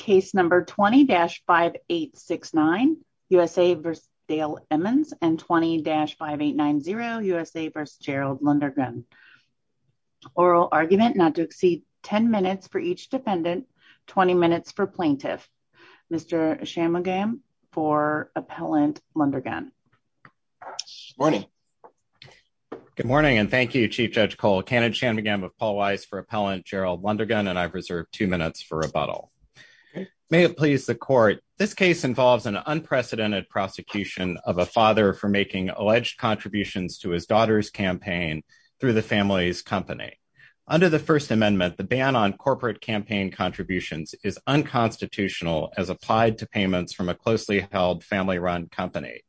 20-5869 USA v. Dale Emmons 20-5890 USA v. Gerald Lundergan Oral argument not to exceed 10 minutes for each defendant, 20 minutes for plaintiff. Mr. Shanmugam for Appellant Lundergan. Good morning and thank you Chief Judge Cole. Kenneth Shanmugam of Paul Weiss for Appellant Gerald Lundergan and I've May it please the court. This case involves an unprecedented prosecution of a father for making alleged contributions to his daughter's campaign through the family's company. Under the First Amendment, the ban on corporate campaign contributions is unconstitutional as applied to payments from a closely held family-run company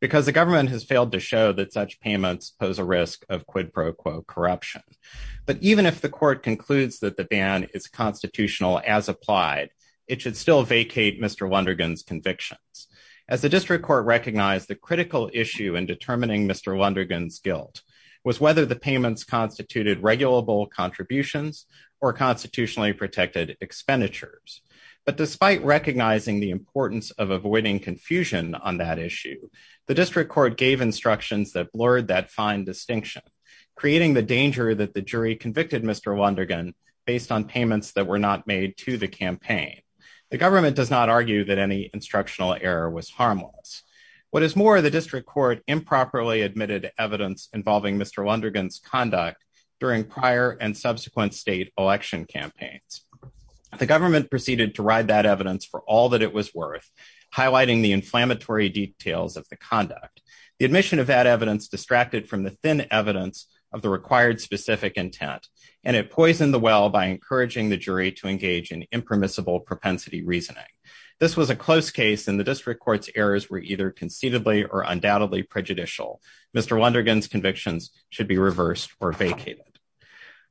because the government has failed to show that such payments pose a risk of quid pro quo corruption. But even if the court concludes that the ban is constitutional as applied, it should still vacate Mr. Lundergan's convictions. As the District Court recognized the critical issue in determining Mr. Lundergan's guilt was whether the payments constituted regulable contributions or constitutionally protected expenditures. But despite recognizing the importance of avoiding confusion on that issue, the District Court gave instructions that blurred that fine distinction, creating the danger that jury convicted Mr. Lundergan based on payments that were not made to the campaign. The government does not argue that any instructional error was harmless. What is more, the District Court improperly admitted evidence involving Mr. Lundergan's conduct during prior and subsequent state election campaigns. The government proceeded to ride that evidence for all that it was worth, highlighting the inflammatory details of the conduct. The admission of that evidence distracted from the thin evidence of the required specific intent, and it poisoned the well by encouraging the jury to engage in impermissible propensity reasoning. This was a close case and the District Court's errors were either conceitably or undoubtedly prejudicial. Mr. Lundergan's convictions should be reversed or vacated.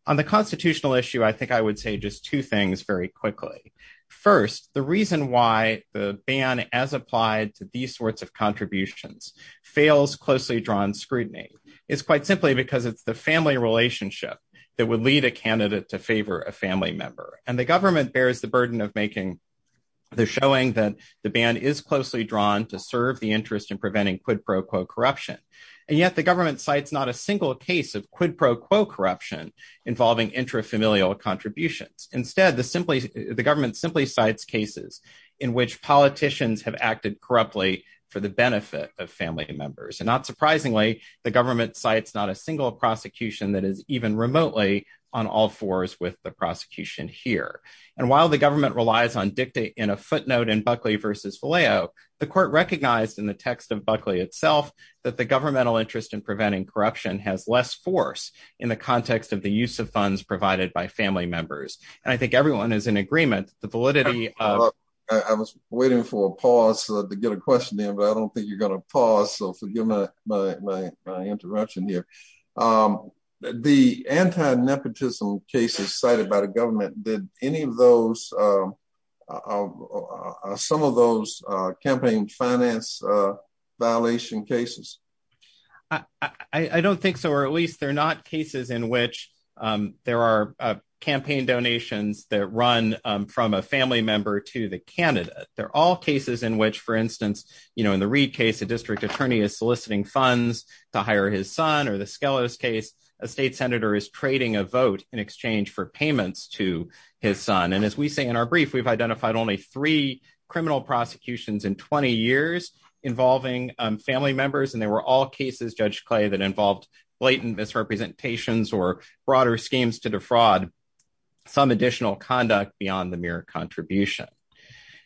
On the constitutional issue, I think I would say just two things very quickly. First, the reason why the ban as applied to these sorts of contributions fails closely drawn scrutiny is quite simply because it's the family relationship that would lead a candidate to favor a family member, and the government bears the burden of making the showing that the ban is closely drawn to serve the interest in preventing quid pro quo corruption, and yet the government cites not a single case of quid pro quo corruption involving intrafamilial contributions. Instead, the government simply cites cases in which politicians have acted corruptly for the benefit of family members, and not surprisingly, the government cites not a single prosecution that is even remotely on all fours with the prosecution here, and while the government relies on dictate in a footnote in Buckley versus Vallejo, the court recognized in the text of Buckley itself that the governmental interest in preventing corruption has less force in the context of the use of funds provided by family members, and I think everyone is in agreement the validity of... I was waiting for a pause to get a question in, but I don't think you're going to pause, so forgive my interruption here. The anti-nepotism cases cited by the government, did any of those, some of those campaign finance violation cases? I don't think so, or at least they're not cases in which there are campaign donations that run from a family member to the candidate. They're all cases in which, for instance, you know, in the Reed case, a district attorney is soliciting funds to hire his son, or the Skelos case, a state senator is trading a vote in exchange for payments to his son, and as we say in our brief, we've identified only three criminal prosecutions in 20 years involving family members, and they were all cases, Judge Clay, that involved blatant misrepresentations or broader schemes to defraud some additional conduct beyond the mere contribution.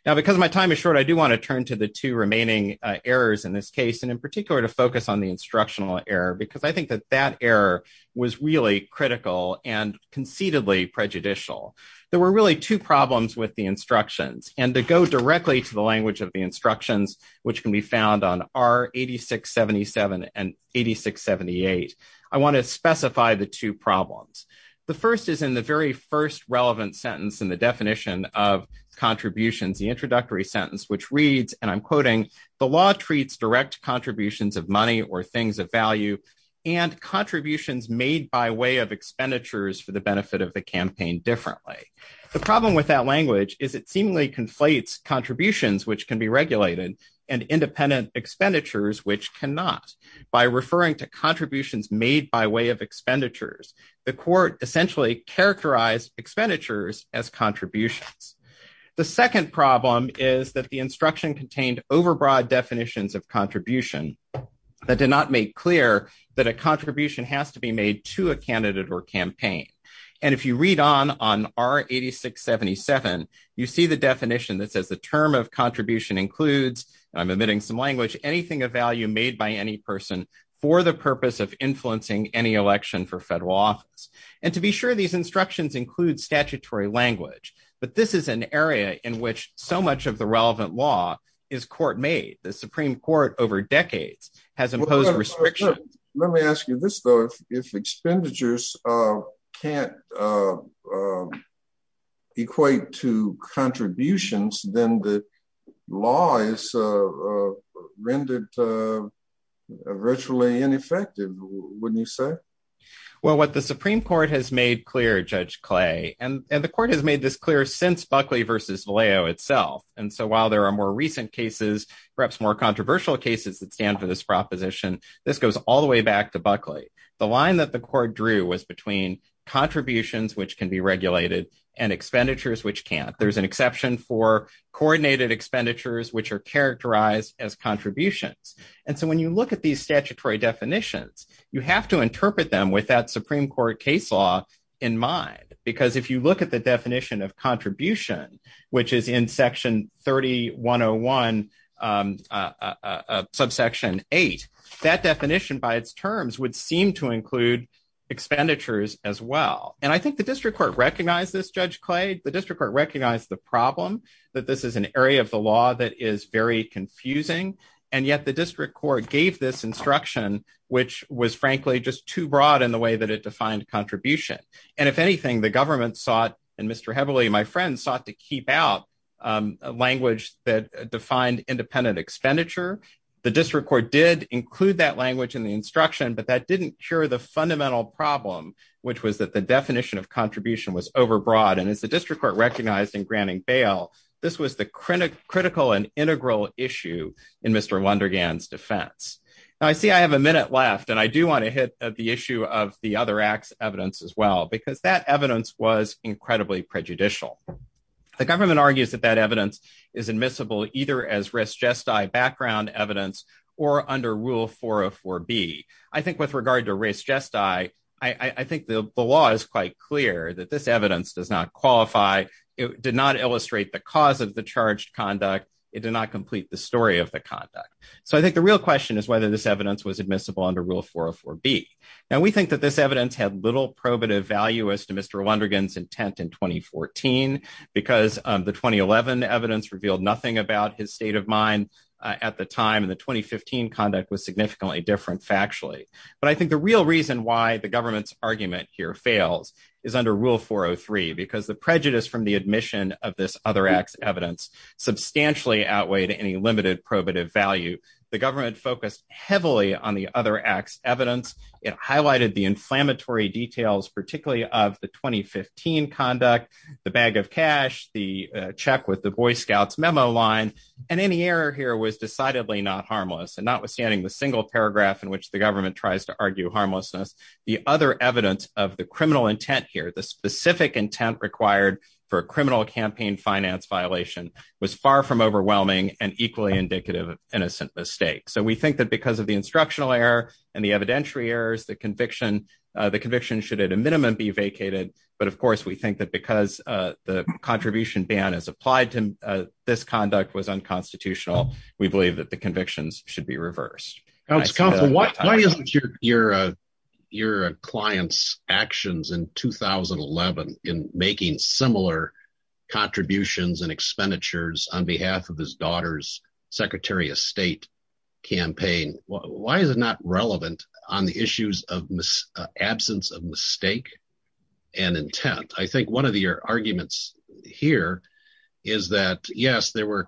Now, because my time is short, I do want to turn to the two remaining errors in this case, and in particular to focus on the instructional error, because I think that that error was really critical and concededly prejudicial. There were really two problems with the instructions, and to go directly to the language of the instructions, which can be found on R8677 and R8678, I want to specify the two problems. The first is in the very first relevant sentence in the definition of contributions, the introductory sentence, which reads, and I'm quoting, the law treats direct contributions of money or things of value and contributions made by way of expenditures for the benefit of the regulated and independent expenditures which cannot. By referring to contributions made by way of expenditures, the court essentially characterized expenditures as contributions. The second problem is that the instruction contained overbroad definitions of contribution that did not make clear that a contribution has to be made to a candidate or campaign, and if you read on on R8677, you see the definition that says the term of contribution includes, and I'm omitting some language, anything of value made by any person for the purpose of influencing any election for federal office, and to be sure, these instructions include statutory language, but this is an area in which so much of the relevant law is court-made. The Supreme Court over decades has imposed restrictions. Let me ask you this, though. If expenditures can't equate to contributions, then the law is rendered virtually ineffective, wouldn't you say? Well, what the Supreme Court has made clear, Judge Clay, and the court has made this clear since Buckley v. Valeo itself, and so while there are more recent cases, perhaps more controversial cases that stand for this proposition, this goes all the way back to Buckley. The line that the court drew was between contributions, which can be regulated, and expenditures, which can't. There's an exception for coordinated expenditures, which are characterized as contributions, and so when you look at these statutory definitions, you have to interpret them with that Supreme Court case law in mind, because if you look at the definition of contribution, which is in section 30.101 subsection 8, that definition by its terms would seem to include expenditures as well, and I think the district court recognized this, Judge Clay. The district court recognized the problem, that this is an area of the law that is very confusing, and yet the district court gave this instruction, which was frankly just too broad in the way that it defined contribution, and if language that defined independent expenditure, the district court did include that language in the instruction, but that didn't cure the fundamental problem, which was that the definition of contribution was overbroad, and as the district court recognized in Granning-Vale, this was the critical and integral issue in Mr. Lundergan's defense. Now I see I have a minute left, and I do want to hit the issue of the other acts evidence as well, because that evidence was is admissible either as res gesti background evidence or under rule 404b. I think with regard to res gesti, I think the law is quite clear that this evidence does not qualify, it did not illustrate the cause of the charged conduct, it did not complete the story of the conduct. So I think the real question is whether this evidence was admissible under rule 404b. Now we think that this evidence had little probative value as to Mr. Lundergan's intent in 2014, because the 2011 evidence revealed nothing about his state of mind at the time, and the 2015 conduct was significantly different factually. But I think the real reason why the government's argument here fails is under rule 403, because the prejudice from the admission of this other acts evidence substantially outweighed any limited probative value. The government focused heavily on the other acts evidence, it highlighted the inflammatory details, particularly of the 2015 conduct, the bag of cash, the check with the Boy Scouts memo line, and any error here was decidedly not harmless, and not withstanding the single paragraph in which the government tries to argue harmlessness, the other evidence of the criminal intent here, the specific intent required for a criminal campaign finance violation was far from overwhelming and equally indicative of innocent mistake. So we think that because of the instructional error, and the evidentiary errors, the conviction, the conviction should at a minimum be vacated. But of course, we think that because the contribution ban is applied to this conduct was unconstitutional, we believe that the convictions should be reversed. Why isn't your client's actions in 2011 in making similar contributions and expenditures on behalf of his daughter's Secretary of State campaign? Why is it not relevant on the issues of absence of mistake? And intent? I think one of the arguments here is that yes, there were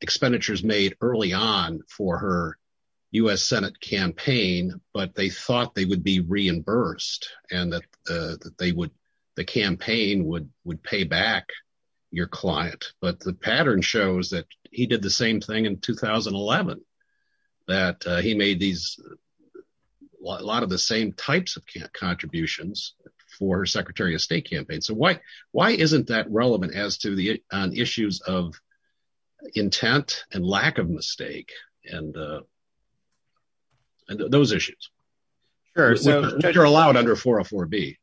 expenditures made early on for her US Senate campaign, but they thought they would be reimbursed, and that they would, the campaign would would pay back your client. But the pattern shows that he did the same thing in 2011, that he made these, a lot of the same types of contributions for Secretary of State campaign. So why, why isn't that relevant as to the issues of intent and lack of mistake, and those issues? Sure. You're allowed under 404B.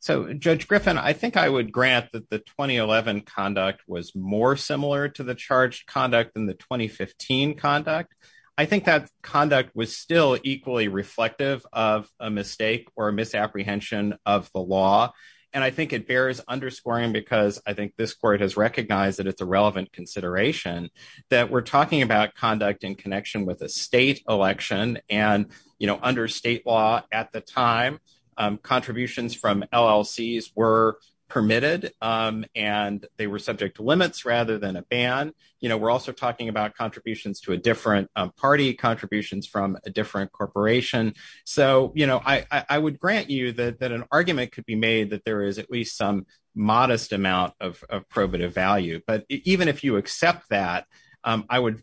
So Judge Griffin, I think I would grant that the 2011 conduct was more similar to the charged conduct in the 2015 conduct. I think that conduct was still equally reflective of a mistake or misapprehension of the law. And I think it bears underscoring because I think this court has recognized that it's a relevant consideration, that we're talking about conduct in connection with a state election. And, you know, under state law at the time, contributions from LLCs were permitted. And they were subject to limits rather than a ban. You know, we're also talking about contributions to a different party contributions from a different corporation. So you know, I would grant you that an argument could be made that there is at least some modest amount of probative value. But even if you accept that, I would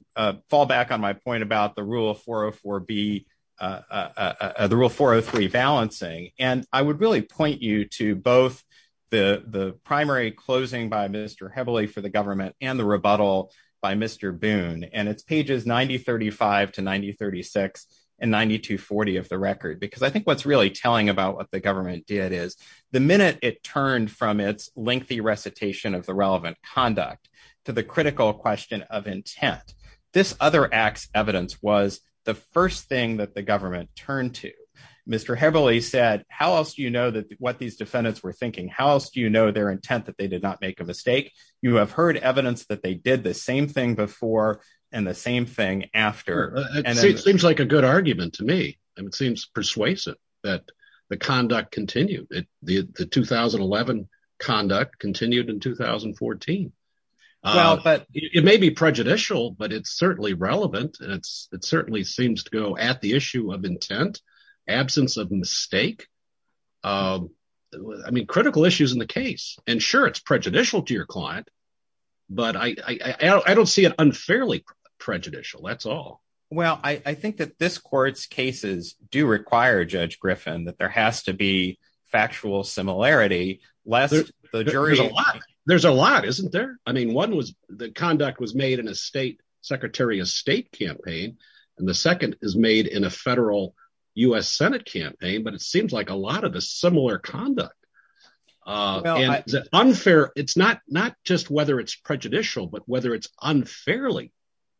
fall back on my point about the rule of 404B, the rule 403 balancing. And I would really point you to both the primary closing by Minister Heavily for the government and the rebuttal by Mr. Boone. And it's pages 9035 to 9036 and 9240 of the record, because I think what's really telling about what the government did is the minute it turned from its lengthy recitation of the relevant conduct to the critical question of intent, this other acts evidence was the first thing that the government turned to Mr. Heavily said, how else do you know that what these defendants were thinking? How else do you know their intent that they did not make a mistake? You have heard evidence that they did the same thing before, and the same thing after. It seems like a good argument to me. And it seems persuasive that the conduct continued. The 2011 conduct continued in 2014. It may be prejudicial, but it's certainly relevant. And it certainly seems to go at the issue of intent, absence of mistake. I mean, critical issues in the case. And sure, it's prejudicial to your client. But I don't see it unfairly prejudicial. That's all. Well, I think that this court's cases do require Judge Griffin that there has to be factual similarity, less the jury. There's a lot, isn't there? I mean, one was the conduct was made in a state Secretary of State campaign. And the second is made in a federal US Senate campaign, but it seems like a lot of a similar conduct. Unfair, it's not not just whether it's prejudicial, but whether it's unfairly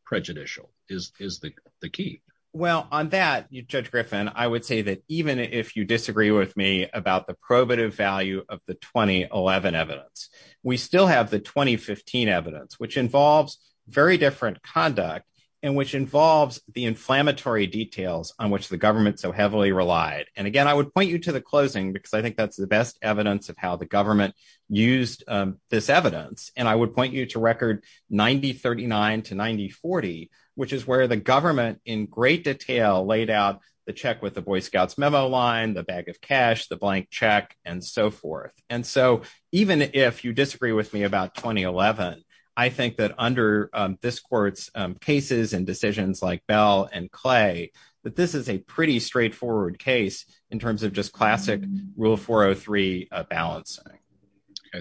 prejudicial is the key. Well, on that, Judge Griffin, I would say that even if you disagree with me about the probative value of the 2011 evidence, we still have the 2015 evidence, which involves very different conduct, and which involves the inflammatory details on which the government so heavily relied. And again, I would point you to the closing because I think that's the best evidence of how the government used this evidence. And I would point you to record 9039 to 9040, which is where the government in great detail laid out the check with the Boy Scouts memo line, the bag of cash, the blank check, and so forth. And so even if you disagree with me about 2011, I think that under this court's cases and decisions like Bell and Clay, that this is a pretty straightforward case in terms of just classic rule 403 balancing.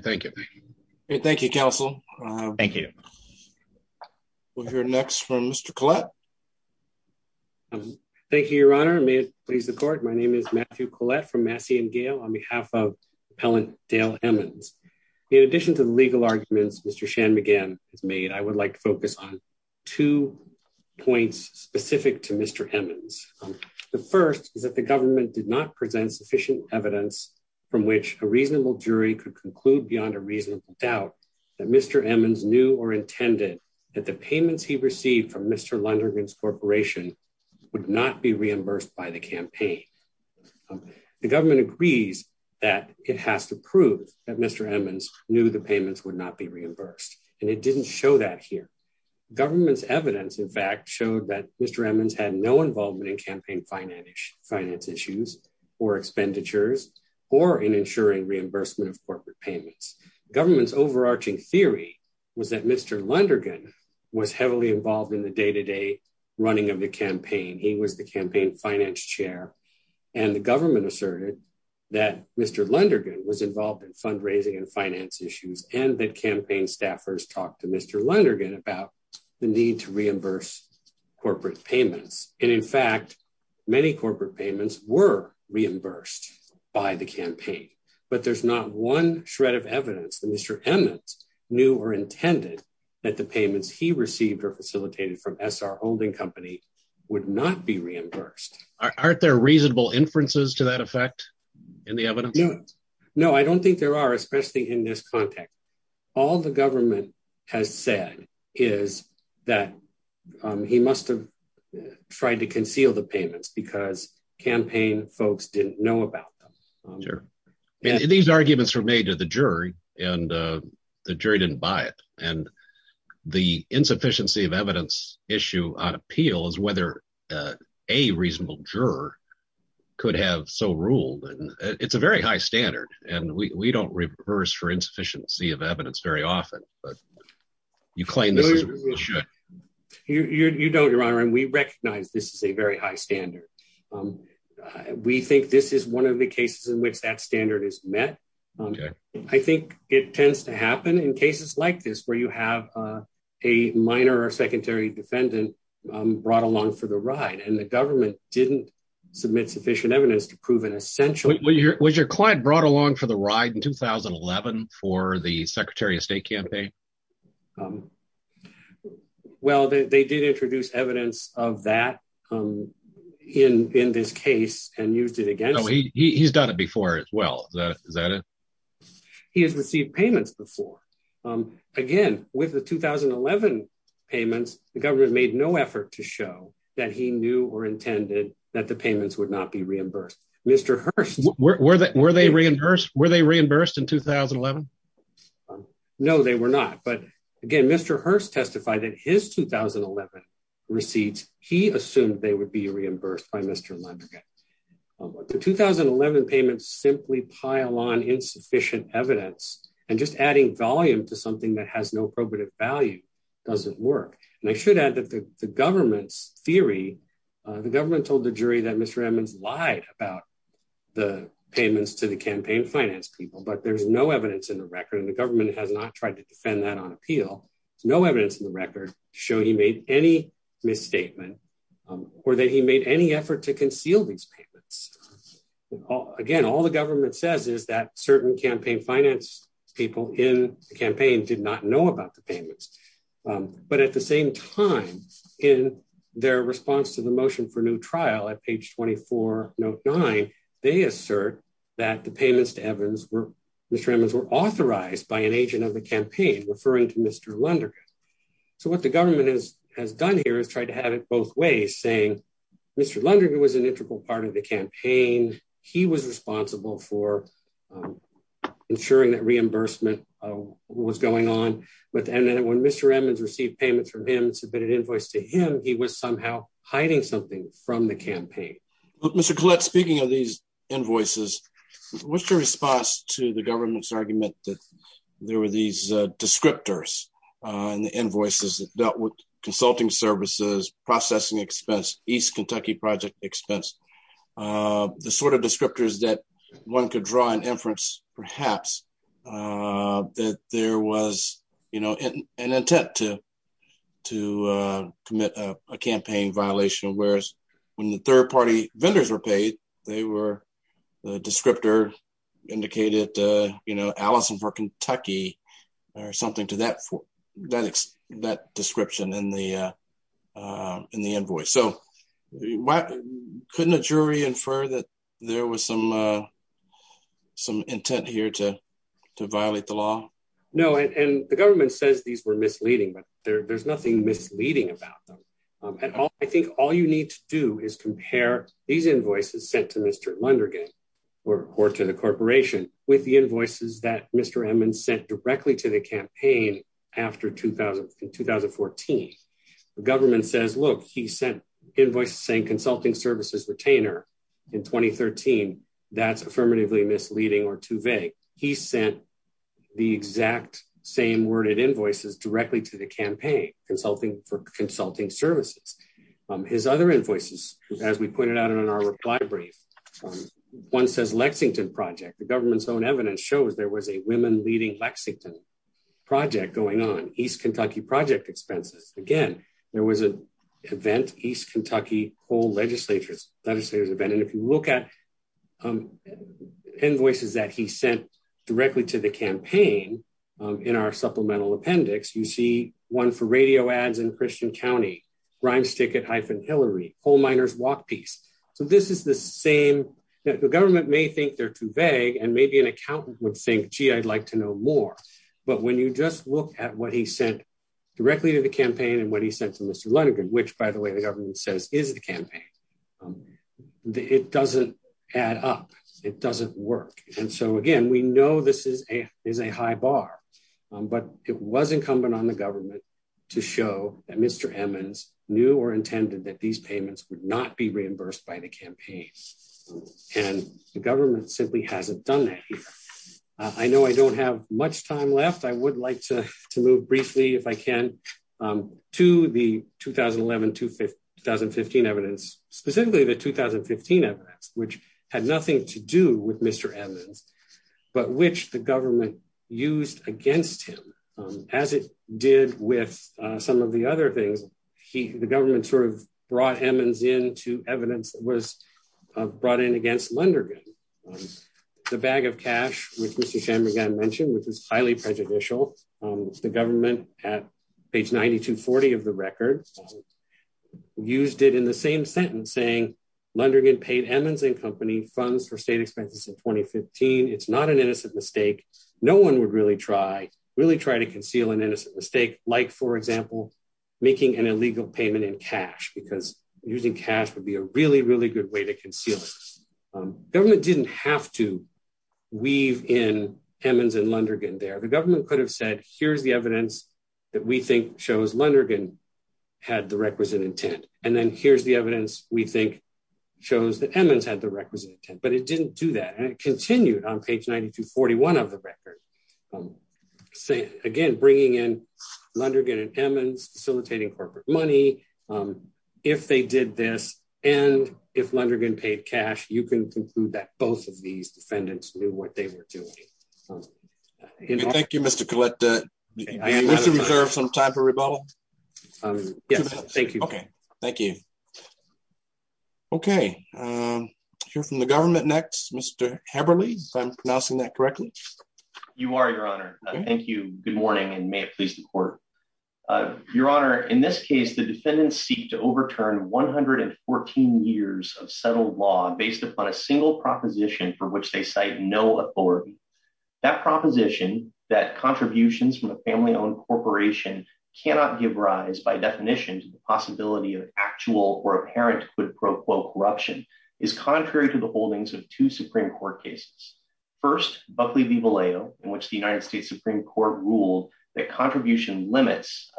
Thank you. Thank you. Thank you, counsel. Thank you. We'll hear next from Mr. Collette. Thank you, Your Honor. May it please the court. My name is Matthew Collette from Massey and Gale on behalf of Appellant Dale Emmons. In addition to the legal arguments Mr. Shanmugam has made, I would like to focus on two points specific to Mr. Emmons. The first is that the government did not present sufficient evidence from which a reasonable jury could conclude beyond a reasonable doubt that Mr. Emmons knew or intended that the payments he received from Mr. Lundergan's corporation would not be reimbursed by the campaign. The government agrees that it has to prove that Mr. Emmons knew the payments would not be reimbursed, and it didn't show that here. Government's evidence, in fact, showed that Mr. Emmons had no involvement in campaign finance issues or expenditures or in ensuring reimbursement of corporate payments. Government's overarching theory was that Mr. Lundergan was heavily involved in the day-to-day running of the campaign. He was the campaign finance chair, and the government asserted that Mr. Lundergan was involved in fundraising and finance issues and that campaign staffers to Mr. Lundergan about the need to reimburse corporate payments. In fact, many corporate payments were reimbursed by the campaign, but there's not one shred of evidence that Mr. Emmons knew or intended that the payments he received or facilitated from SR Holding Company would not be reimbursed. Aren't there reasonable inferences to that effect in the evidence? No, I don't think there are, especially in this context. All the government has said is that he must have tried to conceal the payments because campaign folks didn't know about them. These arguments were made to the jury, and the jury didn't buy it. The insufficiency of evidence issue on appeal is whether a reasonable juror could have so ruled. It's a very high standard, and we don't reverse for insufficiency of evidence very often, but you claim this is what we should. You don't, Your Honor, and we recognize this is a very high standard. We think this is one of the cases in which that standard is met. I think it tends to happen in cases like this where you have a minor or secondary defendant brought along for the ride, and the government didn't submit sufficient evidence to prove an essential... Was your client brought along for the ride in 2011 for the Secretary of State campaign? Well, they did introduce evidence of that in this case and used it against him. He's done it before as well. Is that it? He has received payments before. Again, with the 2011 payments, the government made no effort to show that he knew or intended that the payments would not be reimbursed. Mr. Hearst... Were they reimbursed in 2011? No, they were not, but again, Mr. Hearst testified that his 2011 receipts, he assumed they would be reimbursed by Mr. Lemke. The 2011 payments simply pile on insufficient evidence, and just adding volume to something that has no probative value doesn't work. I should add that the government's theory... The government told the jury that Mr. Edmonds lied about the payments to the campaign finance people, but there's no evidence in the record, and the government has not tried to defend that on appeal. There's no evidence in the record to show he made any misstatement or that he made any effort to conceal these payments. Again, all the government says is that certain campaign finance people in the campaign did not know about the payments, but at the same time, in their response to the motion for new trial at page 24, note nine, they assert that the payments to Mr. Edmonds were authorized by an agent of the campaign referring to Mr. Lundergan. What the government has done here is tried to have it both ways, saying Mr. Lundergan was an integral part of the campaign. He was responsible for ensuring that reimbursement was going on. When Mr. Edmonds received payments from him and submitted an invoice to him, he was somehow hiding something from the campaign. Mr. Collette, speaking of these invoices, what's your response to the government's argument that there were these descriptors in the invoices that dealt with consulting services, processing expense, East perhaps, that there was an intent to commit a campaign violation, whereas when the third-party vendors were paid, the descriptor indicated Allison for Kentucky or something to that description in the invoice. Couldn't a jury infer that there was some intent here to violate the law? No, and the government says these were misleading, but there's nothing misleading about them. I think all you need to do is compare these invoices sent to Mr. Lundergan or to the corporation with the invoices that Mr. Edmonds sent directly to the campaign in 2014. The sent invoices saying consulting services retainer in 2013. That's affirmatively misleading or too vague. He sent the exact same worded invoices directly to the campaign for consulting services. His other invoices, as we pointed out in our reply brief, one says Lexington project. The government's own evidence shows there was a women-leading Lexington project going on, East Kentucky project expenses. Again, there was an event, East Kentucky coal legislator's event. If you look at invoices that he sent directly to the campaign in our supplemental appendix, you see one for radio ads in Christian County, Grimes ticket hyphen Hillary, coal miners walk piece. This is the same. The government may think they're too vague and maybe an accountant would think, gee, I'd like to know more. When you just look at what he sent directly to the campaign and what he sent to Mr. Lundergan, which by the way the government says is the campaign, it doesn't add up. It doesn't work. Again, we know this is a high bar, but it was incumbent on the government to show that Mr. Edmonds knew or intended that these payments would not be I know I don't have much time left. I would like to move briefly if I can to the 2011-2015 evidence, specifically the 2015 evidence, which had nothing to do with Mr. Edmonds, but which the government used against him as it did with some of the other things. The government brought Edmonds into evidence that was brought in against Lundergan. The bag of cash, which Mr. Shanmugam mentioned, which is highly prejudicial, the government at page 9240 of the record used it in the same sentence saying Lundergan paid Edmonds and company funds for state expenses in 2015. It's not an innocent mistake. No one would really try to conceal an innocent mistake, like, for example, making an illegal payment in cash, because using cash would be a really, really good way to conceal it. The government didn't have to weave in Edmonds and Lundergan there. The government could have said here's the evidence that we think shows Lundergan had the requisite intent, and then here's the evidence we think shows that Edmonds had the requisite intent, but it didn't do that, and it continued on page 9241 of the record, saying again, bringing in Lundergan and Edmonds, facilitating corporate money. If they did this, and if Lundergan paid cash, you can conclude that both of these defendants knew what they were doing. Thank you, Mr. Collette. Do you wish to reserve some time for rebuttal? Yes, thank you. Okay, thank you. Okay, hear from the government next. Mr. Heberle, if I'm pronouncing that correctly. You are, Your Honor. Thank you. Good morning, and may it please the Court. Your Honor, in this case, the defendants seek to overturn 114 years of settled law based upon a single proposition for which they cite no authority. That proposition, that contributions from a family-owned corporation cannot give rise, by definition, to the possibility of actual or apparent quid pro quo corruption, is contrary to the holdings of two Supreme Court cases. First, Buckley v. Vallejo, in which the United States Supreme Court ruled that contribution limits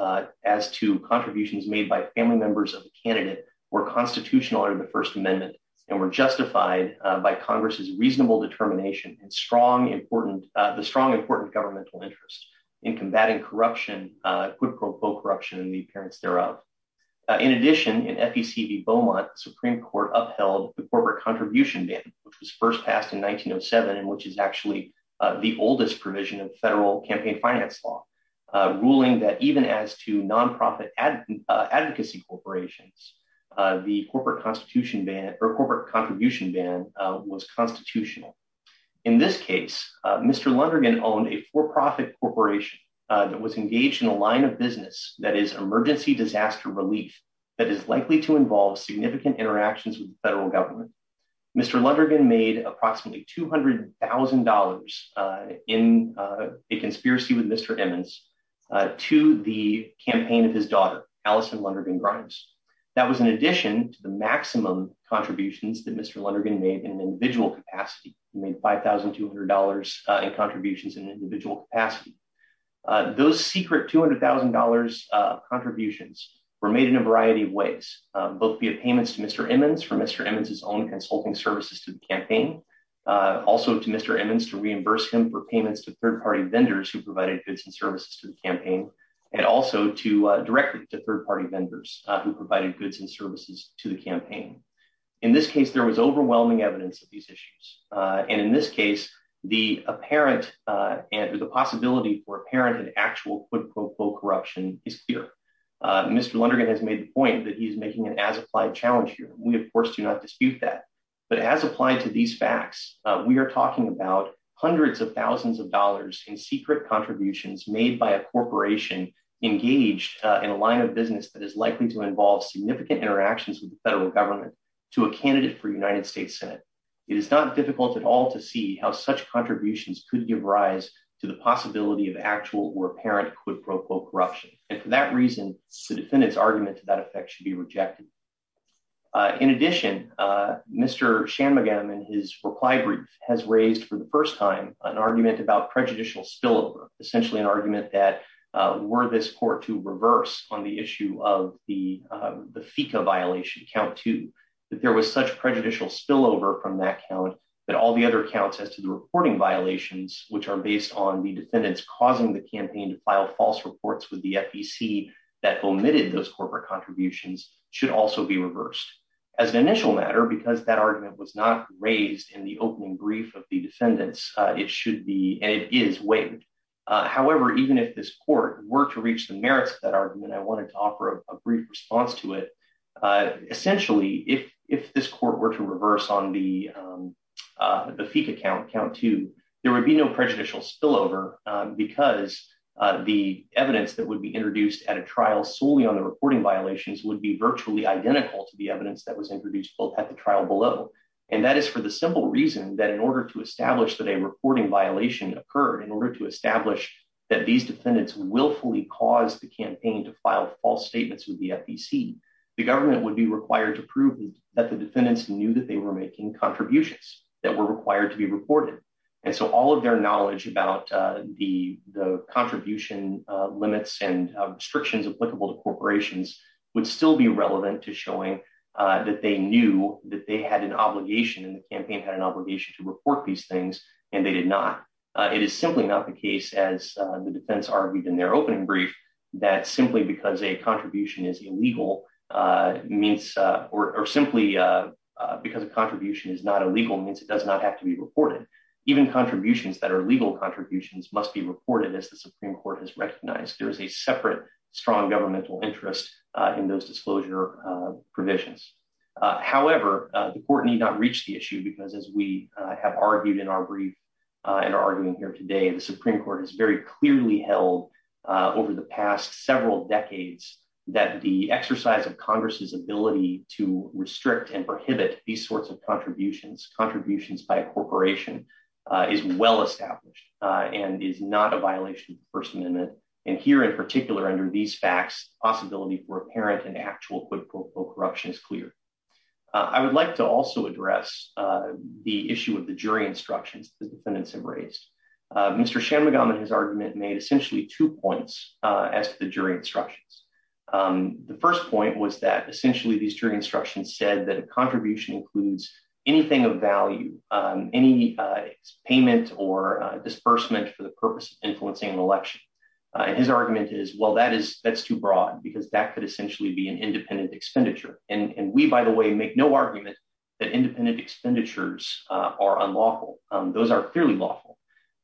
as to contributions made by family members of the candidate were constitutional under the First Amendment and were justified by Congress's reasonable determination and the strong, important governmental interest in combating quid pro quo corruption and the appearance thereof. In addition, in FEC v. Beaumont, the Supreme Court upheld the Corporate Contribution Ban, which was first passed in 1907 and which is actually the oldest provision of federal campaign finance law, ruling that even as to non-profit advocacy corporations, the corporate contribution ban was constitutional. In this case, Mr. Lundergan owned a for-profit corporation that was engaged in a line of business that is emergency disaster relief that is likely to involve significant interactions with the federal government. Mr. Lundergan made approximately $200,000 in a conspiracy with Mr. Emmons to the campaign of his daughter, Alison Lundergan Grimes. That was in addition to the maximum contributions that Mr. Emmons made, $5,200 in contributions in individual capacity. Those secret $200,000 contributions were made in a variety of ways, both via payments to Mr. Emmons from Mr. Emmons' own consulting services to the campaign, also to Mr. Emmons to reimburse him for payments to third-party vendors who provided goods and services to the campaign, and also directly to third-party vendors who provided goods and services to the campaign. In this case, there was overwhelming evidence of these issues. In this case, the possibility for apparent and actual quote-unquote corruption is clear. Mr. Lundergan has made the point that he's making an as-applied challenge here. We, of course, do not dispute that. But as applied to these facts, we are talking about hundreds of thousands of dollars in secret contributions made by a corporation engaged in a line of business that is likely to involve significant interactions with the federal government to a candidate for the presidency. It is not difficult at all to see how such contributions could give rise to the possibility of actual or apparent quote-unquote corruption. And for that reason, the defendant's argument to that effect should be rejected. In addition, Mr. Shanmugam in his reply brief has raised for the first time an argument about prejudicial spillover, essentially an argument that were this court to reverse on the issue of the FICA violation, count two, that there was such spillover from that count that all the other counts as to the reporting violations, which are based on the defendants causing the campaign to file false reports with the FEC that omitted those corporate contributions, should also be reversed. As an initial matter, because that argument was not raised in the opening brief of the defendants, it should be and it is weighted. However, even if this court were to reach the merits of that argument, I wanted to offer a brief response to it. Essentially, if this court were to reverse on the FICA count two, there would be no prejudicial spillover because the evidence that would be introduced at a trial solely on the reporting violations would be virtually identical to the evidence that was introduced both at the trial below. And that is for the simple reason that in order to establish that a reporting violation occurred, in order to establish that these defendants willfully caused the campaign to require to prove that the defendants knew that they were making contributions that were required to be reported. And so all of their knowledge about the contribution limits and restrictions applicable to corporations would still be relevant to showing that they knew that they had an obligation and the campaign had an obligation to report these things and they did not. It is simply not the case, as the defendants argued in their opening brief, that simply because a contribution is illegal means or simply because a contribution is not illegal means it does not have to be reported. Even contributions that are legal contributions must be reported as the Supreme Court has recognized. There is a separate strong governmental interest in those disclosure provisions. However, the court need not reach the issue because as we have argued in our brief and are arguing here today, the Supreme Court has very clearly held over the past several decades that the exercise of Congress's ability to restrict and prohibit these sorts of contributions, contributions by a corporation, is well established and is not a violation of the First Amendment. And here in particular under these facts, the possibility for apparent and actual corruption is clear. I would like to also address the issue of the jury instructions the defendants have raised. Mr. Shanmugam and his argument made essentially two points as to the jury instructions. The first point was that essentially these jury instructions said that a contribution includes anything of value, any payment or disbursement for the purpose of influencing an election. His argument is, well, that's too broad because that could essentially be an independent expenditure. And we, by the way, make no argument that independent expenditures are unlawful. Those are clearly lawful.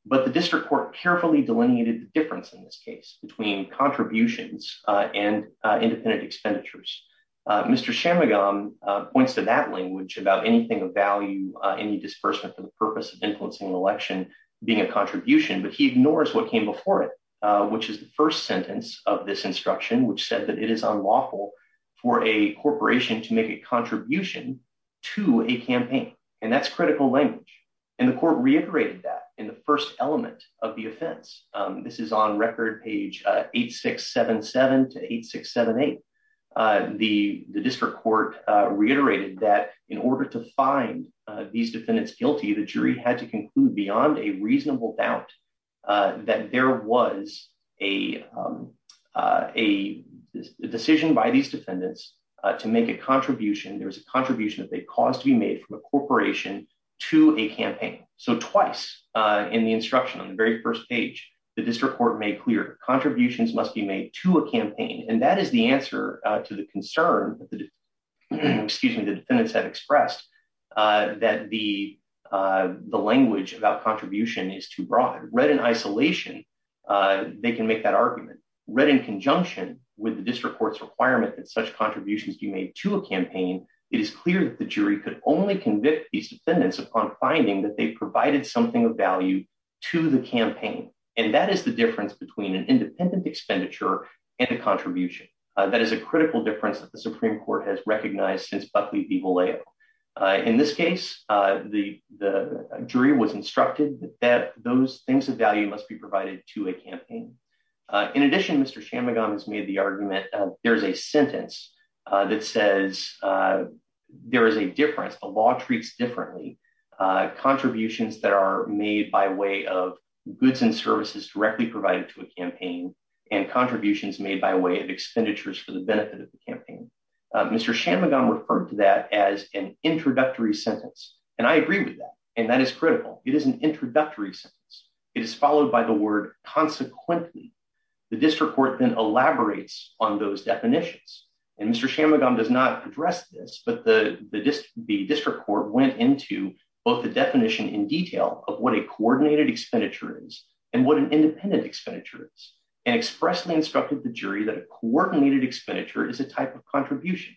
But the district court carefully delineated the difference in this case between contributions and independent expenditures. Mr. Shanmugam points to that language about anything of value, any disbursement for the purpose of influencing an election being a contribution, but he ignores what came before it, which is the first sentence of this instruction, which said that it is unlawful for a corporation to make a contribution to a campaign. And that's critical language. And the court reiterated that in the first element of the offense. This is on record page 8677 to 8678. The district court reiterated that in order to find these defendants guilty, the jury had to conclude beyond a reasonable doubt that there was a decision by these defendants to make a contribution. There was a contribution that they caused to be made from a corporation to a campaign. So twice in the instruction, the very first page, the district court made clear contributions must be made to a campaign. And that is the answer to the concern that the, excuse me, the defendants have expressed that the language about contribution is too broad. Read in isolation, they can make that argument. Read in conjunction with the district court's requirement that such contributions be made to a campaign, it is clear that the jury could only convict these defendants upon finding that they And that is the difference between an independent expenditure and a contribution. That is a critical difference that the Supreme Court has recognized since Buckley v. Vallejo. In this case, the jury was instructed that those things of value must be provided to a campaign. In addition, Mr. Shamagam has made the argument that there's a sentence that says there is a difference. The law treats differently contributions that are made by way of goods and services directly provided to a campaign and contributions made by way of expenditures for the benefit of the campaign. Mr. Shamagam referred to that as an introductory sentence. And I agree with that. And that is critical. It is an introductory sentence. It is followed by the word consequently. The district court then elaborates on those definitions. And Mr. Shamagam does not address this, but the district court went into both the definition in detail of what a coordinated expenditure is and what an independent expenditure is, and expressly instructed the jury that a coordinated expenditure is a type of contribution.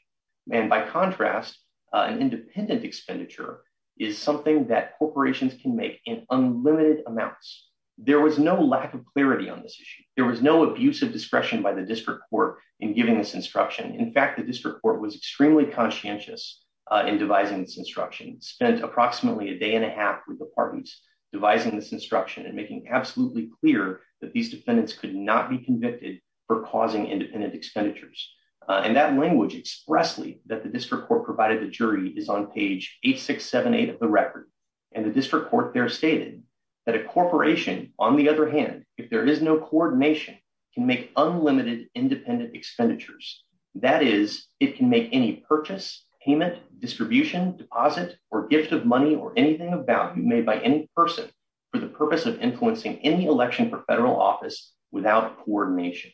And by contrast, an independent expenditure is something that corporations can make in unlimited amounts. There was no lack of clarity on this issue. There was no abuse of discretion by the district court in giving this instruction. In fact, the district court was extremely conscientious in devising this instruction, spent approximately a day and a half with the parties devising this instruction and making absolutely clear that these defendants could not be convicted for causing independent expenditures. And that language expressly that the district court provided the jury is on page 8678 of the record. And the district court there stated that a corporation, on the other hand, if there is no coordination, can make unlimited independent expenditures. That is, it can make any purchase, payment, distribution, deposit, or gift of money or anything of value made by any person for the purpose of influencing any election for federal office without coordination.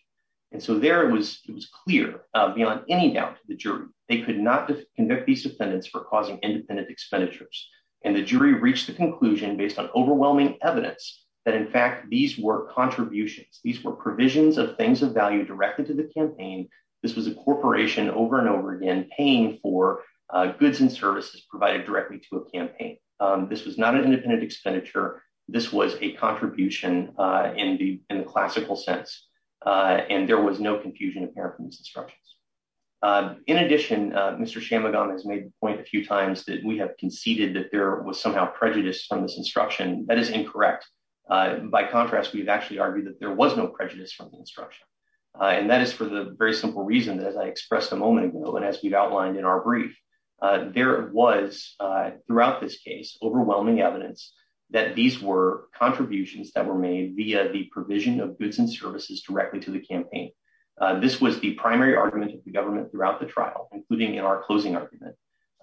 And so there it was clear beyond any doubt to the jury, they could not convict these defendants for causing independent expenditures. And the jury reached the conclusion based on overwhelming evidence that, in fact, these were contributions. These were provisions of things of value directly to the campaign. This was a corporation over and over again, paying for goods and services provided directly to a campaign. This was not an independent expenditure. This was a contribution in the classical sense. And there was no confusion apparent from these instructions. In addition, Mr. Chamagon has made the point a few times that we have conceded that there was somehow prejudice from this instruction. That is incorrect. By contrast, we've actually argued that there was no prejudice from the instruction. And that is for the very simple reason that as I expressed a moment ago, and as we've outlined in our brief, there was throughout this case overwhelming evidence that these were contributions that were made via the provision of goods and services directly to the campaign. This was the primary argument of the government throughout the trial, including in our closing argument.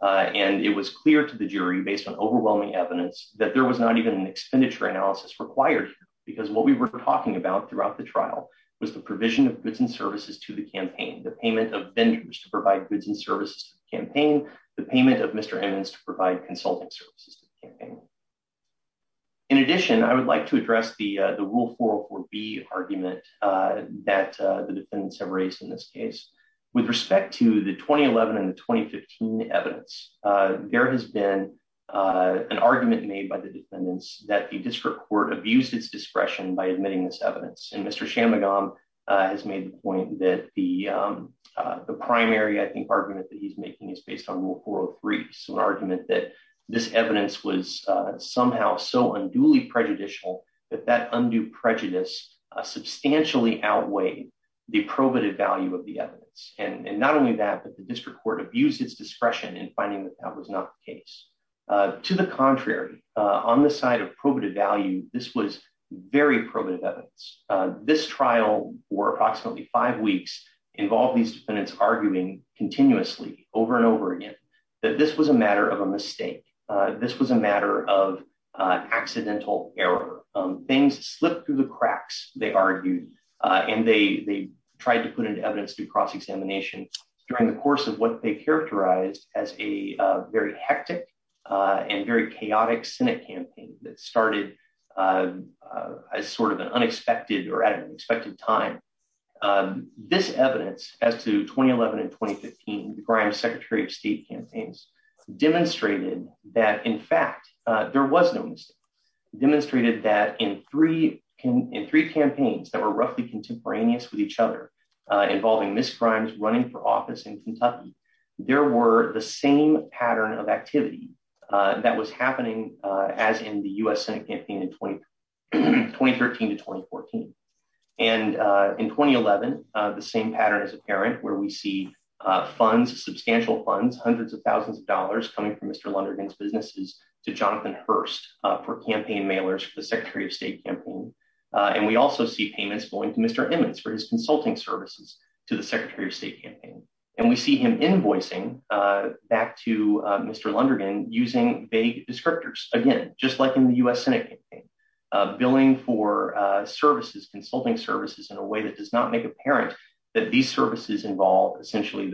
And it was clear to the jury based on overwhelming evidence that there was not even an expenditure analysis required because what we were talking about throughout the trial was the provision of goods and services to the campaign, the payment of vendors to provide goods and services to the campaign, the payment of Mr. Emmons to provide consultant services to the campaign. In addition, I would like to address the rule 404B argument that the defendants have raised in this case. With respect to the 2011 and the 2015 evidence, there has been an argument made by the defendants that the district court abused its discretion by admitting this evidence. And Mr. Chamagon has made the point that the primary, I think, argument that he's making is based on rule 403. So an argument that this evidence was somehow so unduly prejudicial that that undue prejudice substantially outweighed the probative value of the evidence. And not only that, but the district court abused its discretion in finding that that was not the case. To the contrary, on the side of probative value, this was very probative evidence. This trial for approximately five weeks involved these defendants arguing continuously over and accidental error. Things slipped through the cracks, they argued, and they tried to put into evidence through cross-examination during the course of what they characterized as a very hectic and very chaotic Senate campaign that started as sort of an unexpected or at an unexpected time. This evidence as to 2011 and 2015, the Grimes Secretary of State campaigns demonstrated that, in fact, there was no mistake, demonstrated that in three campaigns that were roughly contemporaneous with each other involving Miss Grimes running for office in Kentucky, there were the same pattern of activity that was happening as in the U.S. Senate campaign in 2013 to 2014. And in 2011, the same pattern is apparent where we see funds, substantial funds, hundreds of dollars coming from Mr. Lundergan's businesses to Jonathan Hurst for campaign mailers for the Secretary of State campaign. And we also see payments going to Mr. Emmons for his consulting services to the Secretary of State campaign. And we see him invoicing back to Mr. Lundergan using vague descriptors, again, just like in the U.S. Senate campaign, billing for services, consulting services in a way that does not make apparent that these services involve essentially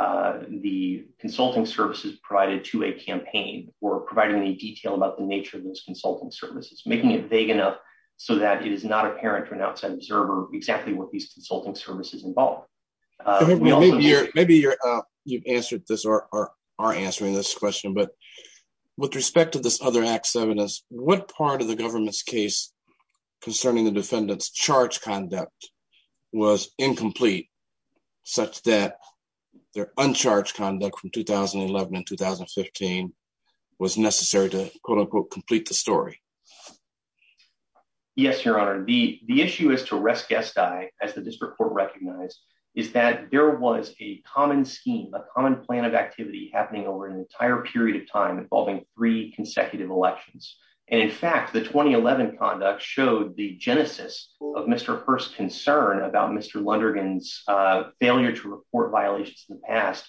the consulting services provided to a campaign or providing any detail about the nature of those consulting services, making it vague enough so that it is not apparent to an outside observer exactly what these consulting services involve. Maybe you've answered this or are answering this question, but with respect to this other Act 7, what part of the government's case concerning the defendant's charge conduct was incomplete such that their uncharged conduct from 2011 and 2015 was necessary to, quote, unquote, complete the story? Yes, Your Honor. The issue is to rest guesstide, as the district court recognized, is that there was a common scheme, a common plan of activity happening over an entire period of time involving three consecutive elections. And in fact, the 2011 conduct showed the genesis of Mr. Hurst's concern about Mr. Lundergan's failure to report violations in the past.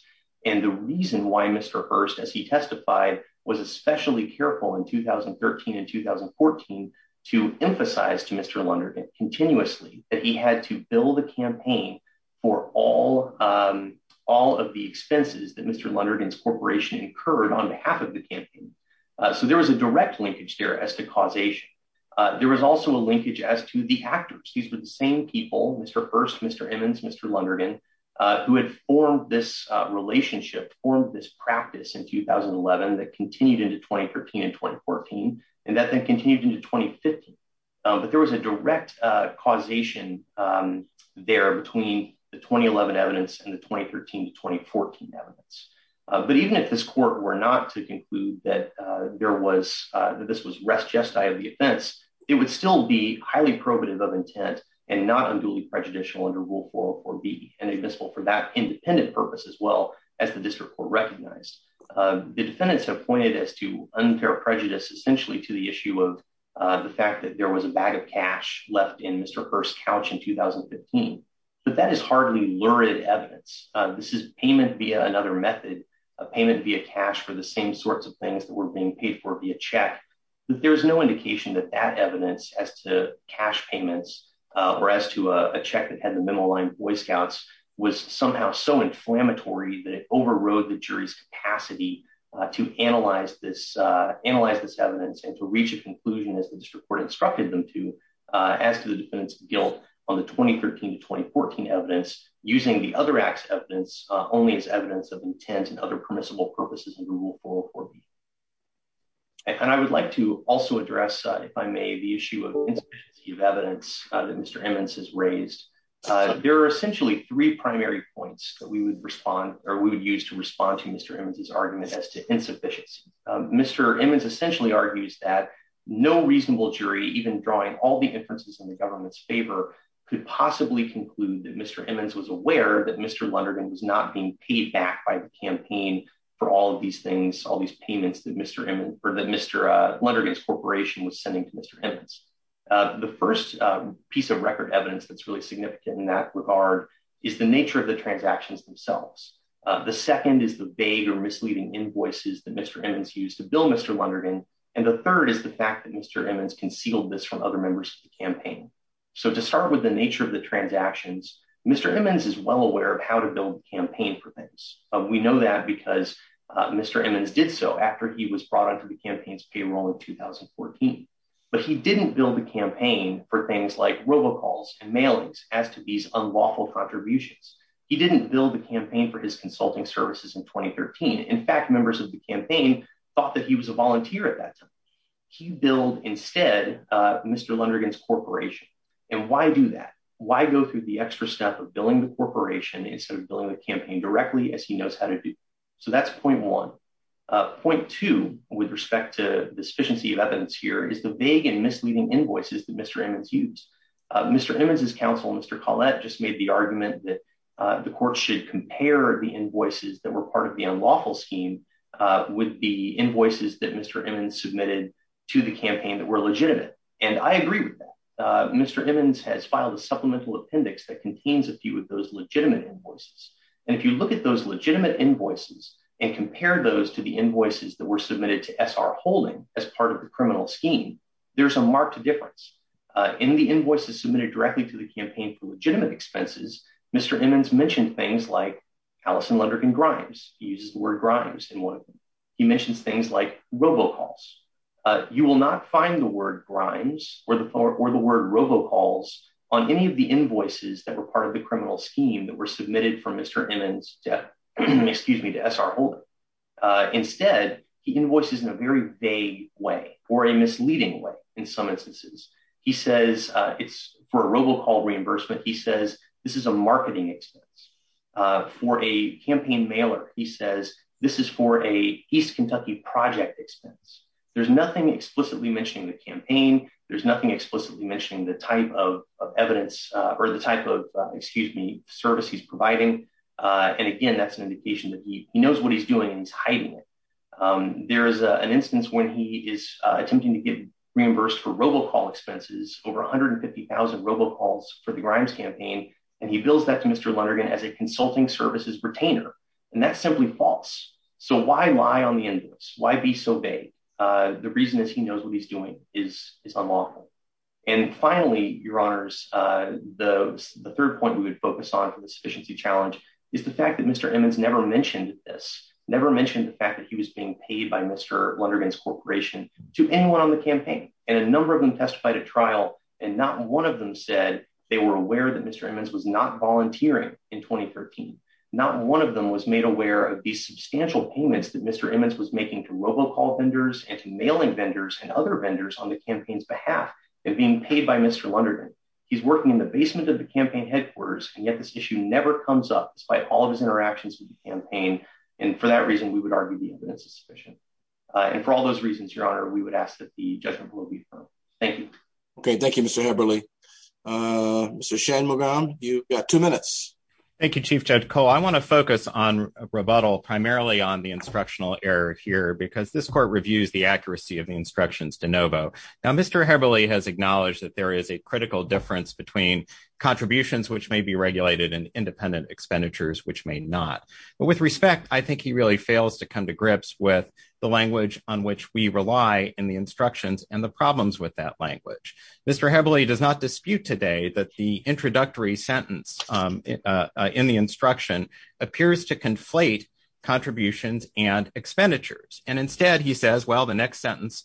And the reason why Mr. Hurst, as he testified, was especially careful in 2013 and 2014 to emphasize to Mr. Lundergan continuously that he had to bill the campaign for all of the expenses that Mr. Lundergan's campaign. So there was a direct linkage there as to causation. There was also a linkage as to the actors. These were the same people, Mr. Hurst, Mr. Emmons, Mr. Lundergan, who had formed this relationship, formed this practice in 2011 that continued into 2013 and 2014, and that then continued into 2015. But there was a direct causation there between the 2011 evidence and 2013 to 2014 evidence. But even if this court were not to conclude that there was, that this was rest gesti of the offense, it would still be highly probative of intent and not unduly prejudicial under Rule 404B and admissible for that independent purpose as well, as the district court recognized. The defendants have pointed us to unfair prejudice essentially to the issue of the fact that there was a bag of cash left in Mr. Hurst's couch in 2015. But that is hardly lurid evidence. This is payment via another method, a payment via cash for the same sorts of things that were being paid for via check. But there's no indication that that evidence as to cash payments or as to a check that had the memo line Boy Scouts was somehow so inflammatory that it overrode the jury's capacity to analyze this, analyze this evidence and to reach a conclusion as the district court instructed them to as to the defendant's guilt on the 2013 to 2014 evidence using the other acts evidence only as evidence of intent and other permissible purposes in Rule 404B. And I would like to also address, if I may, the issue of insufficiency of evidence that Mr. Emmons has raised. There are essentially three primary points that we would respond or we would use to respond to Mr. Emmons' argument as to insufficiency. Mr. Emmons essentially argues that no reasonable jury, even drawing all the inferences in the government's favor, could possibly conclude that Mr. Emmons was aware that Mr. Lundergan was not being paid back by the campaign for all of these things, all these payments that Mr. Emmons or that Mr. Lundergan's corporation was sending to Mr. Emmons. The first piece of record evidence that's really significant in that regard is the nature of the transactions themselves. The second is the vague or misleading invoices that Mr. Emmons used to bill Mr. Lundergan. And the third is the fact that Mr. Emmons concealed this from other members of the campaign. So to start with the nature of the transactions, Mr. Emmons is well aware of how to build a campaign for things. We know that because Mr. Emmons did so after he was brought onto the campaign's payroll in 2014. But he didn't build the campaign for things like robocalls and mailings as to these unlawful contributions. He didn't build the campaign for his consulting services in 2013. In fact, members of the campaign thought that he was a volunteer at that time. He billed instead Mr. Lundergan's corporation. And why do that? Why go through the extra step of billing the corporation instead of billing the campaign directly as he knows how to do? So that's point one. Point two, with respect to the sufficiency of evidence here, is the vague and misleading invoices that Mr. Emmons used. Mr. Emmons' counsel, Mr. Collette, just made the argument that the court should compare the invoices that were part of the unlawful scheme with the invoices that Mr. Emmons submitted to the campaign that were legitimate. And I agree with that. Mr. Emmons has filed a supplemental appendix that contains a few of those legitimate invoices. And if you look at those legitimate invoices and compare those to the invoices that were submitted to SR Holding as part of the difference, in the invoices submitted directly to the campaign for legitimate expenses, Mr. Emmons mentioned things like Callison, Lundergan, Grimes. He uses the word Grimes in one of them. He mentions things like robocalls. You will not find the word Grimes or the word robocalls on any of the invoices that were part of the criminal scheme that were submitted from Mr. Emmons' debt, excuse me, to SR Holding. Instead, he invoices in a very vague way or a misleading way in some instances. He says it's for a robocall reimbursement. He says this is a marketing expense for a campaign mailer. He says this is for a East Kentucky project expense. There's nothing explicitly mentioning the campaign. There's nothing explicitly mentioning the type of evidence or the type of, excuse me, service he's providing. And again, that's an indication that he knows what he's doing and he's hiding it. There is an instance when he is attempting to give reimbursed for robocall expenses, over 150,000 robocalls for the Grimes campaign, and he bills that to Mr. Lundergan as a consulting services retainer. And that's simply false. So why lie on the invoice? Why be so vague? The reason is he knows what he's doing is unlawful. And finally, your honors, the third point we would focus on for the sufficiency challenge is the fact that Mr. Emmons never mentioned this, never mentioned the fact that he was being paid by Mr. Lundergan's campaign. And a number of them testified at trial and not one of them said they were aware that Mr. Emmons was not volunteering in 2013. Not one of them was made aware of these substantial payments that Mr. Emmons was making to robocall vendors and to mailing vendors and other vendors on the campaign's behalf and being paid by Mr. Lundergan. He's working in the basement of the campaign headquarters, and yet this issue never comes up despite all of his interactions with the campaign. And for that reason, we would argue the evidence is sufficient. And for all those reasons, we would ask that the judgment will be firm. Thank you. Okay. Thank you, Mr. Heberle. Mr. Shanmugam, you've got two minutes. Thank you, Chief Judge Cole. I want to focus on rebuttal primarily on the instructional error here because this court reviews the accuracy of the instructions de novo. Now, Mr. Heberle has acknowledged that there is a critical difference between contributions which may be regulated and independent expenditures which may not. But with respect, I think he really fails to come to grips with the language on which we rely in the instructions and the problems with that language. Mr. Heberle does not dispute today that the introductory sentence in the instruction appears to conflate contributions and expenditures. And instead, he says, well, the next sentence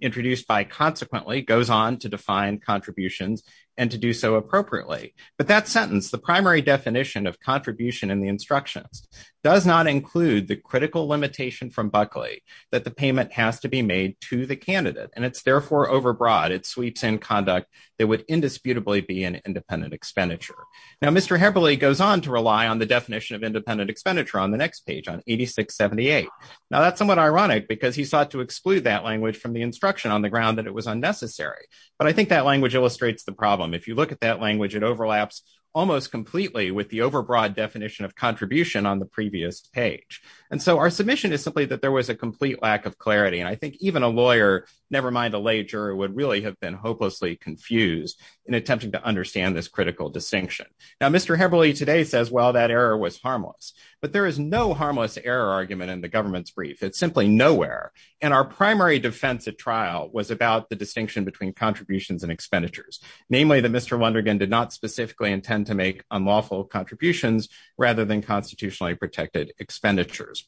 introduced by consequently goes on to define contributions and to do so appropriately. But that sentence, the primary definition of contribution in the instructions does not include the critical limitation from Buckley that the payment has to be made to the candidate. And it's therefore overbroad. It sweeps in conduct that would indisputably be an independent expenditure. Now, Mr. Heberle goes on to rely on the definition of independent expenditure on the next page on 8678. Now, that's somewhat ironic because he sought to exclude that language from the instruction on the ground that it was unnecessary. But I think that language illustrates the problem. If you look at that language, it overlaps almost completely with the overbroad definition of contribution on the previous page. And so our submission is simply that there was a complete lack of clarity. And I think even a lawyer, nevermind a lay juror would really have been hopelessly confused in attempting to understand this critical distinction. Now, Mr. Heberle today says, well, that error was harmless, but there is no harmless error argument in the government's brief. It's simply nowhere. And our primary defense at trial was about the distinction between contributions and expenditures, namely that Mr. Wundergan did not specifically intend to make unlawful contributions rather than constitutionally protected expenditures.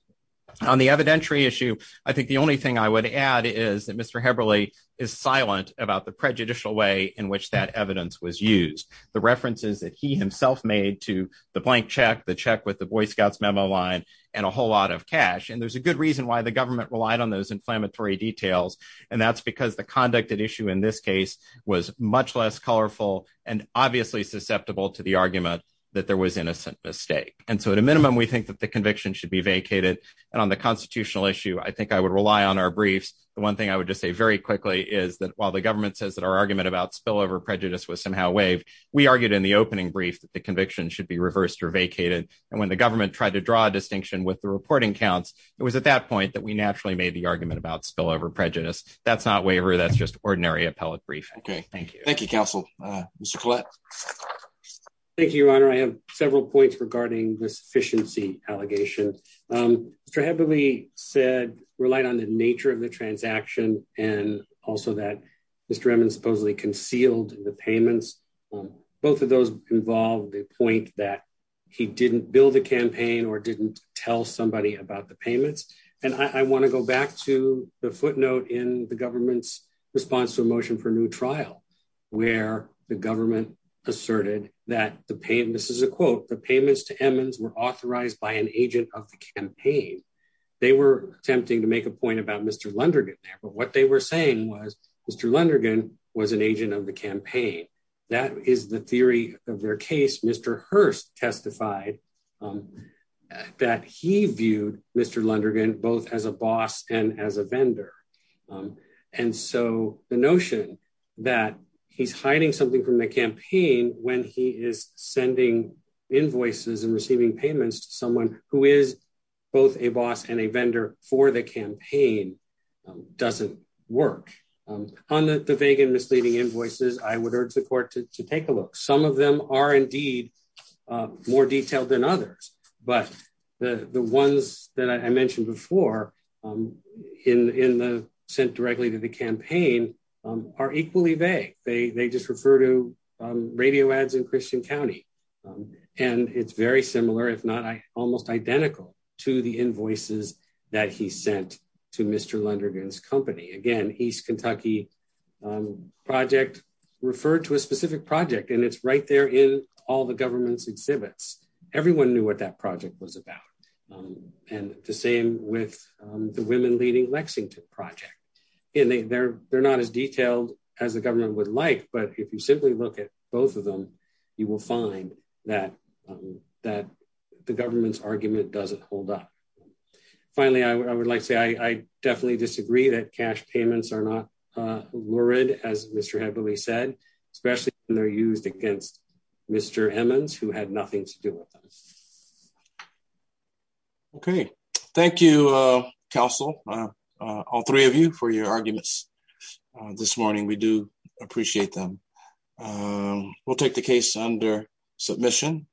On the evidentiary issue, I think the only thing I would add is that Mr. Heberle is silent about the prejudicial way in which that evidence was used. The references that he himself made to the blank check, the check with the Boy Scouts memo line, and a whole lot of cash. And there's a good reason why the government relied on those inflammatory details. And that's because the argument that there was innocent mistake. And so at a minimum, we think that the conviction should be vacated. And on the constitutional issue, I think I would rely on our briefs. The one thing I would just say very quickly is that while the government says that our argument about spillover prejudice was somehow waived, we argued in the opening brief that the conviction should be reversed or vacated. And when the government tried to draw a distinction with the reporting counts, it was at that point that we naturally made the argument about spillover prejudice. That's not waiver. That's just ordinary appellate briefing. Okay. Thank you. Thank you, counsel. Mr. Collette. Thank you, Your Honor. I have several points regarding this efficiency allegation. Mr. Heberle said, relied on the nature of the transaction and also that Mr. Emmons supposedly concealed the payments. Both of those involve the point that he didn't build a campaign or didn't tell somebody about the payments. And I want to go back to the footnote in the government's response to a motion for new trial. Where the government asserted that the payment, this is a quote, the payments to Emmons were authorized by an agent of the campaign. They were attempting to make a point about Mr. Lundergan, but what they were saying was Mr. Lundergan was an agent of the campaign. That is the theory of their case. Mr. Hearst testified that he viewed Mr. Lundergan both as a boss and as a vendor. And so the notion that he's hiding something from the campaign when he is sending invoices and receiving payments to someone who is both a boss and a vendor for the campaign doesn't work. On the vague and misleading invoices, I would urge the court to take a look. Some of them are indeed more detailed than others, but the ones that I mentioned before in the sent directly to the campaign are equally vague. They just refer to radio ads in Christian County. And it's very similar, if not almost identical to the invoices that he sent to Mr. Lundergan's company. Again, East Kentucky Project referred to a specific project and it's right there in all the government's exhibits. Everyone knew what that project was about. And the same with the Women Leading Lexington Project. They're not as detailed as the government would like, but if you simply look at both of them, you will find that the government's argument doesn't hold up. Finally, I would like to say I definitely disagree that cash payments are not lurid, as Mr. Headley said, especially when they're used against Mr. Emmons, who had nothing to do with them. Okay, thank you, counsel, all three of you for your arguments this morning. We do appreciate them. We'll take the case under submission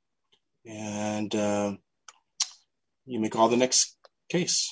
and you may call the next case.